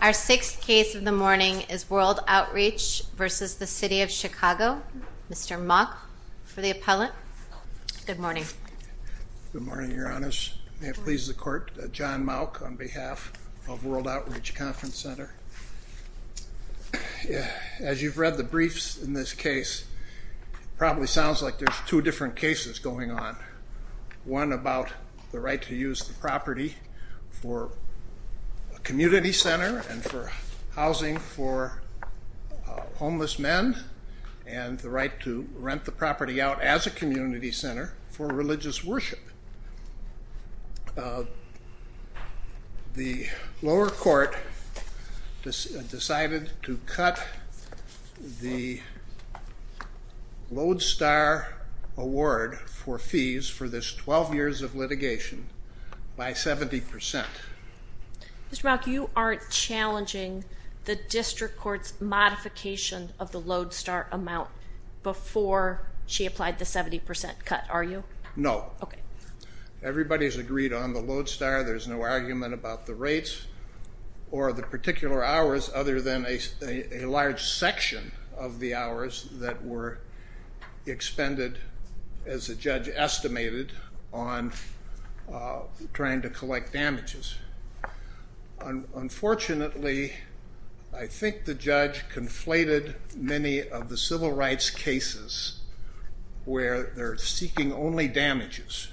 Our sixth case of the morning is World Outreach v. City of Chicago. Mr. Mauck for the appellant. Good morning. Good morning, Your Honors. May it please the Court, John Mauck on behalf of World Outreach Conference Center. As you've read the briefs in this case, it probably sounds like there's two different cases going on. One about the right to use the property for a community center and for housing for homeless men and the right to rent the property out as a community center for religious worship. The lower court decided to cut the Lodestar award for fees for this 12 years of litigation by 70%. Mr. Mauck, you aren't challenging the district court's modification of the Lodestar amount before she applied the 70% cut, are you? No. Okay. Everybody's agreed on the Lodestar. There's no argument about the rates or the particular hours other than a large section of the hours that were expended, as the judge estimated, on trying to collect damages. Unfortunately, I think the judge conflated many of the civil rights cases where they're seeking only damages.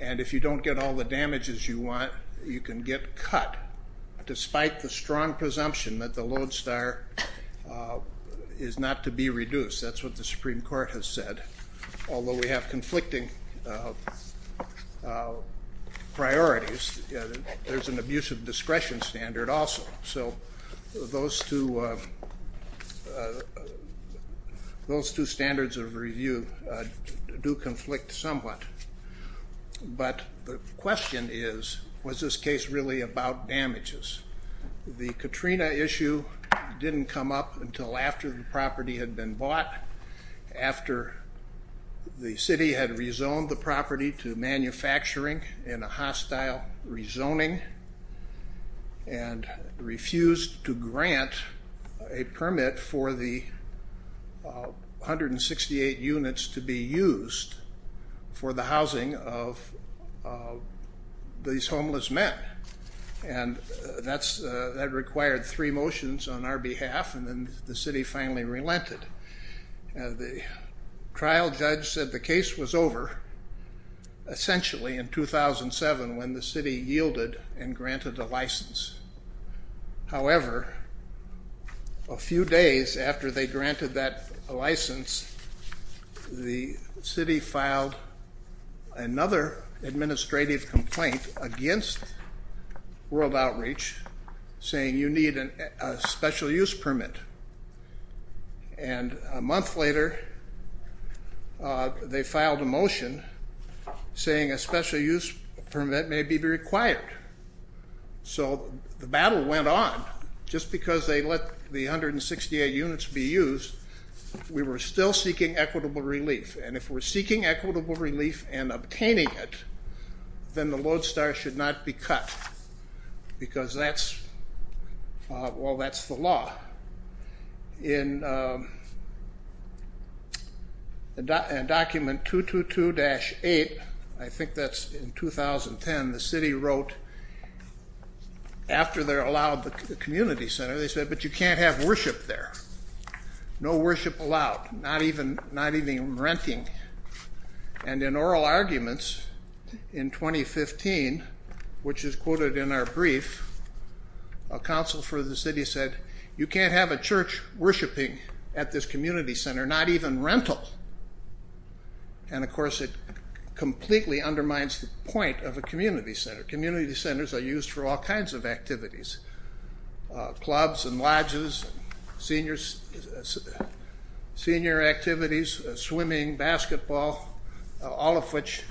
And if you don't get all the damages you want, you can get cut despite the strong presumption that the Lodestar is not to be reduced. That's what the Supreme Court has said. Although we have conflicting priorities, there's an abuse of discretion standard also. So those two standards of review do conflict somewhat. But the question is, was this case really about damages? The Katrina issue didn't come up until after the property had been bought, after the city had rezoned the property to manufacturing in a hostile rezoning, and refused to grant a permit for the 168 units to be used for the housing of these homeless men. And that required three motions on our behalf, and then the city finally relented. The trial judge said the case was over, essentially, in 2007, when the city yielded and granted a license. However, a few days after they granted that license, the city filed another administrative complaint against World Outreach, saying you need a special use permit. And a month later, they filed a motion saying a special use permit may be required. So the battle went on. Just because they let the 168 units be used, we were still seeking equitable relief. And if we're seeking equitable relief and obtaining it, then the lodestar should not be cut, because that's the law. In document 222-8, I think that's in 2010, the city wrote, after they're allowed the community center, they said, but you can't have worship there. No worship allowed. Not even renting. And in oral arguments in 2015, which is quoted in our brief, a council for the city said, you can't have a church worshiping at this community center, not even rental. And of course, it completely undermines the point of a community center. Community centers are used for all kinds of activities. Clubs and lodges, senior activities, swimming, basketball, all of which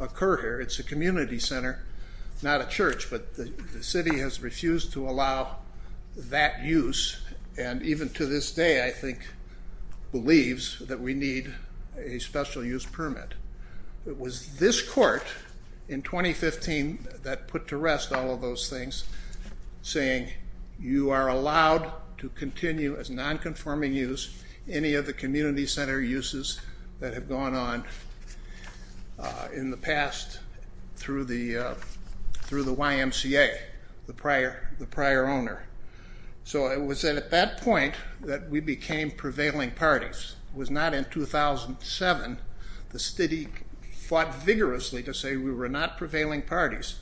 occur here. It's a community center, not a church, but the city has refused to allow that use, and even to this day, I think, believes that we need a special use permit. It was this court in 2015 that put to rest all of those things, saying, you are allowed to continue as nonconforming use any of the community center uses that have gone on in the past through the YMCA, the prior owner. So it was at that point that we became prevailing parties. It was not in 2007. The city fought vigorously to say we were not prevailing parties,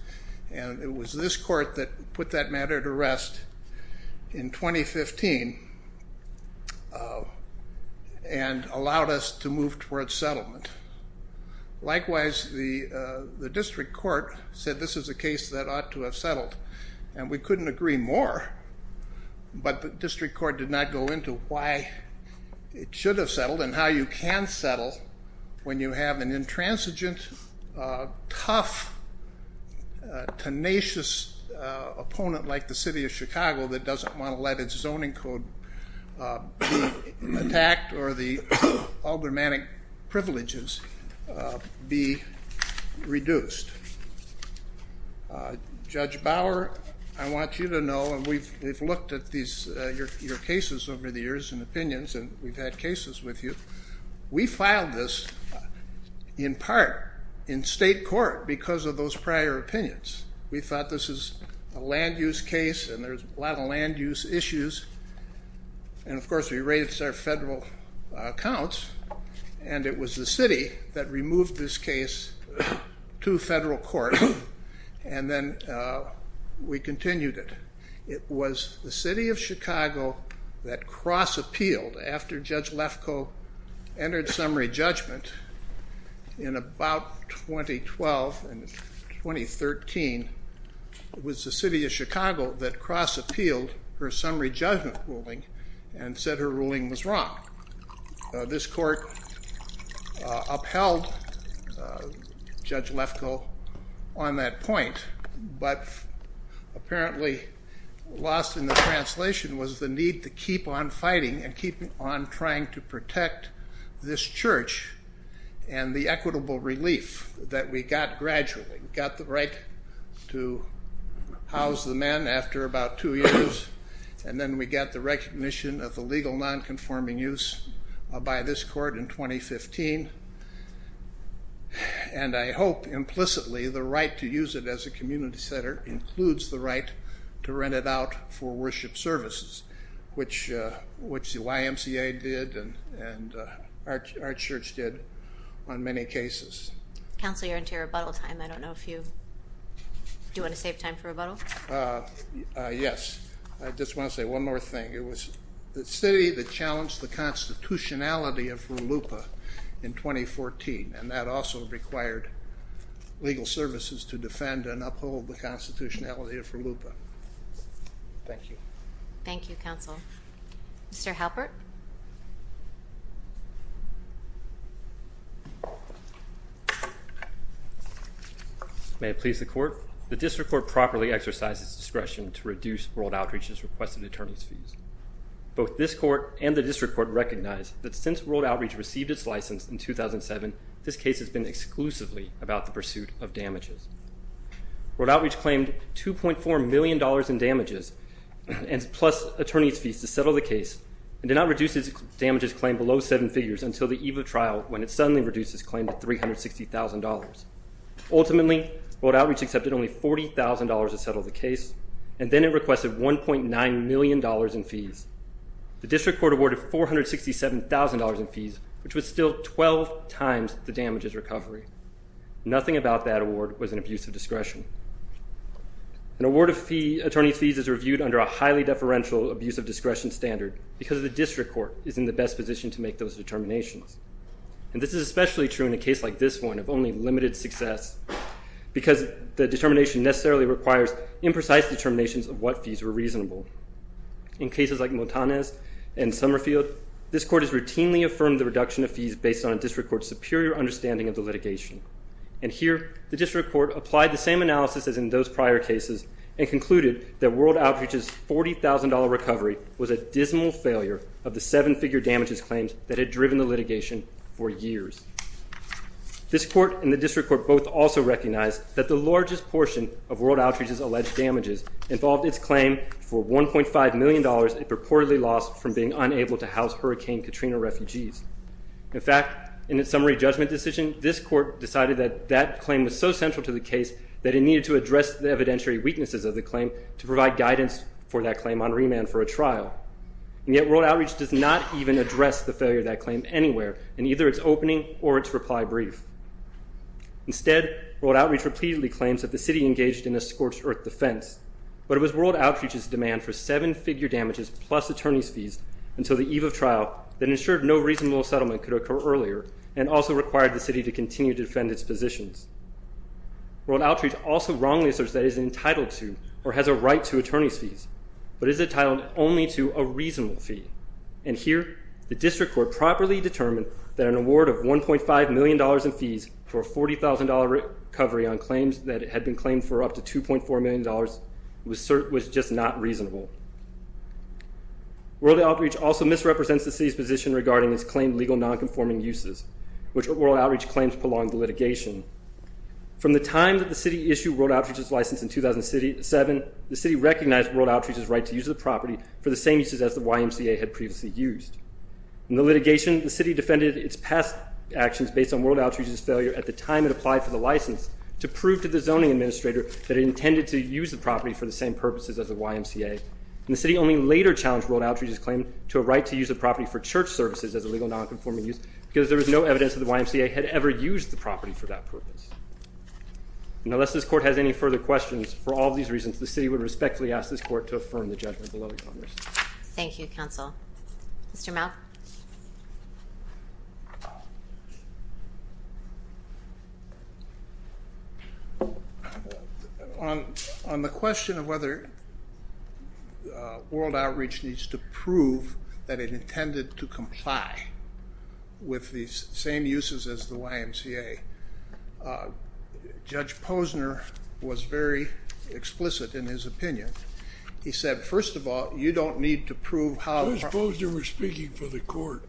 and it was this court that put that matter to rest in 2015 and allowed us to move towards settlement. Likewise, the district court said this is a case that ought to have settled, and we should have settled, and how you can settle when you have an intransigent, tough, tenacious opponent like the city of Chicago that doesn't want to let its zoning code be attacked or the aldermanic privileges be reduced. Judge Bauer, I want you to know, and we've looked at your cases over the years and opinions, and we've had cases with you. We filed this in part in state court because of those prior opinions. We thought this is a land use case, and there's a lot of land use issues, and of course we raised our federal accounts, and it was the city that removed this case to federal court, and then we continued it. It was the city of Chicago that cross-appealed after Judge Lefko entered summary judgment in about 2012 and 2013, it was the city of Chicago that cross-appealed her summary judgment ruling and said her ruling was wrong. This court upheld Judge Lefko on that point, but apparently lost in the translation was the need to keep on fighting and keep on trying to protect this church and the equitable relief that we got gradually. We got the right to house the men after about two years, and then we got the recognition of the legal non-conforming use by this court in 2015, and I hope implicitly the right to use it as a community center includes the right to rent it out for worship services, which the YMCA did and our church did on many cases. Counselor, you're into your rebuttal time. I don't know if you want to save time for rebuttal. Yes. I just want to say one more thing. It was the city that challenged the constitutionality of RLUIPA in 2014, and that also required legal services to defend and uphold the constitutionality of RLUIPA. Thank you. Thank you, Counsel. Mr. Halpert? May it please the court? The district court properly exercised its discretion to reduce World Outreach's requested attorneys' fees. Both this court and the district court recognize that since World Outreach received its license in 2007, this case has been exclusively about the pursuit of damages. World Outreach claimed $2.4 million in damages, plus attorneys' fees, to settle the case and did not reduce its damages claim below seven figures until the eve of trial, when it suddenly reduced its claim to $360,000. Ultimately, World Outreach accepted only $40,000 to settle the case, and then it requested $1.9 million in fees. The district court awarded $467,000 in fees, which was still 12 times the damages recovery. Nothing about that award was an abuse of discretion. An award of attorney's fees is reviewed under a highly deferential abuse of discretion standard because the district court is in the best position to make those determinations. And this is especially true in a case like this one of only limited success, because the determination necessarily requires imprecise determinations of what fees were reasonable. In cases like Motanes and Summerfield, this court has routinely affirmed the reduction of fees based on a district court's superior understanding of the litigation. And here, the district court applied the same analysis as in those prior cases and concluded that World Outreach's $40,000 recovery was a dismal failure of the seven-figure damages claims that had driven the litigation for years. This court and the district court both also recognized that the largest portion of World Outreach's alleged damages involved its claim for $1.5 million it purportedly lost from being unable to house Hurricane Katrina refugees. In fact, in its summary judgment decision, this court decided that that claim was so central to the case that it needed to address the evidentiary weaknesses of the claim to provide guidance for that claim on remand for a trial. And yet World Outreach does not even address the failure of that claim anywhere in either its opening or its reply brief. Instead, World Outreach repeatedly claims that the city engaged in a scorched earth defense, but it was World Outreach's demand for seven-figure damages plus attorney's fees until the eve of trial that ensured no reasonable settlement could occur earlier and also required the city to continue to defend its positions. World Outreach also wrongly asserts that it is entitled to or has a right to attorney's fees, but is entitled only to a reasonable fee. And here, the district court properly determined that an award of $1.5 million in fees for a $40,000 recovery on claims that had been claimed for up to $2.4 million was just not reasonable. World Outreach also misrepresents the city's position regarding its claimed legal nonconforming uses, which World Outreach claims prolonged the litigation. From the time that the city issued World Outreach's license in 2007, the city recognized World Outreach as a property that the YMCA had previously used. In the litigation, the city defended its past actions based on World Outreach's failure at the time it applied for the license to prove to the zoning administrator that it intended to use the property for the same purposes as the YMCA, and the city only later challenged World Outreach's claim to a right to use the property for church services as a legal nonconforming use because there was no evidence that the YMCA had ever used the property for that purpose. And unless this court has any further questions, for all of these reasons, the city would respectfully ask this court to affirm the judgment below the Congress. Thank you, Counsel. Mr. Malkoff? On the question of whether World Outreach needs to prove that it intended to comply with the same uses as the YMCA, Judge Posner was very explicit in his opinion. He said, first of all, you don't need to prove how— Judge Posner was speaking for the court,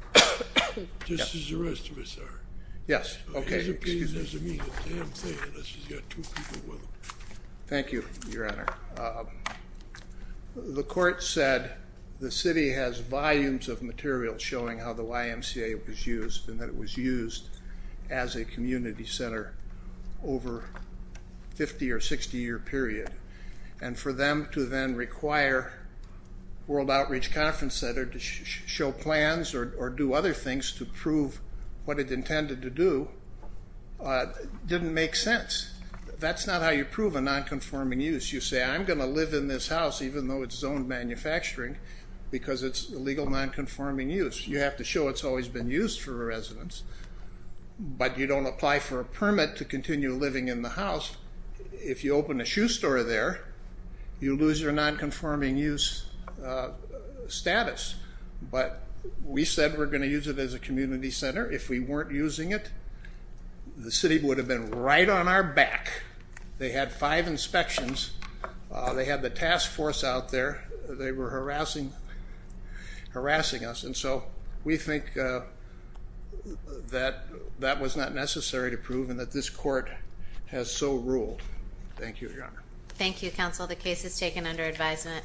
just as the rest of us are. Yes, okay. His opinion doesn't mean a damn thing unless he's got two people with him. Thank you, Your Honor. The court said the city has volumes of material showing how the YMCA was used, and that it was used as a community center over a 50- or 60-year period. And for them to then require World Outreach Conference Center to show plans or do other things to prove what it intended to do didn't make sense. That's not how you prove a nonconforming use. You say, I'm going to live in this house, even though it's zoned manufacturing, because it's a legal nonconforming use. You have to show it's always been used for a residence, but you don't apply for a permit to continue living in the house. If you open a shoe store there, you lose your nonconforming use status. But we said we're going to use it as a community center. If we weren't using it, the city would have been right on our back. They had five inspections. They had the task force out there. They were harassing us. And so we think that that was not necessary to prove and that this court has so ruled. Thank you, Your Honor. Thank you, counsel. The case is taken under advisement.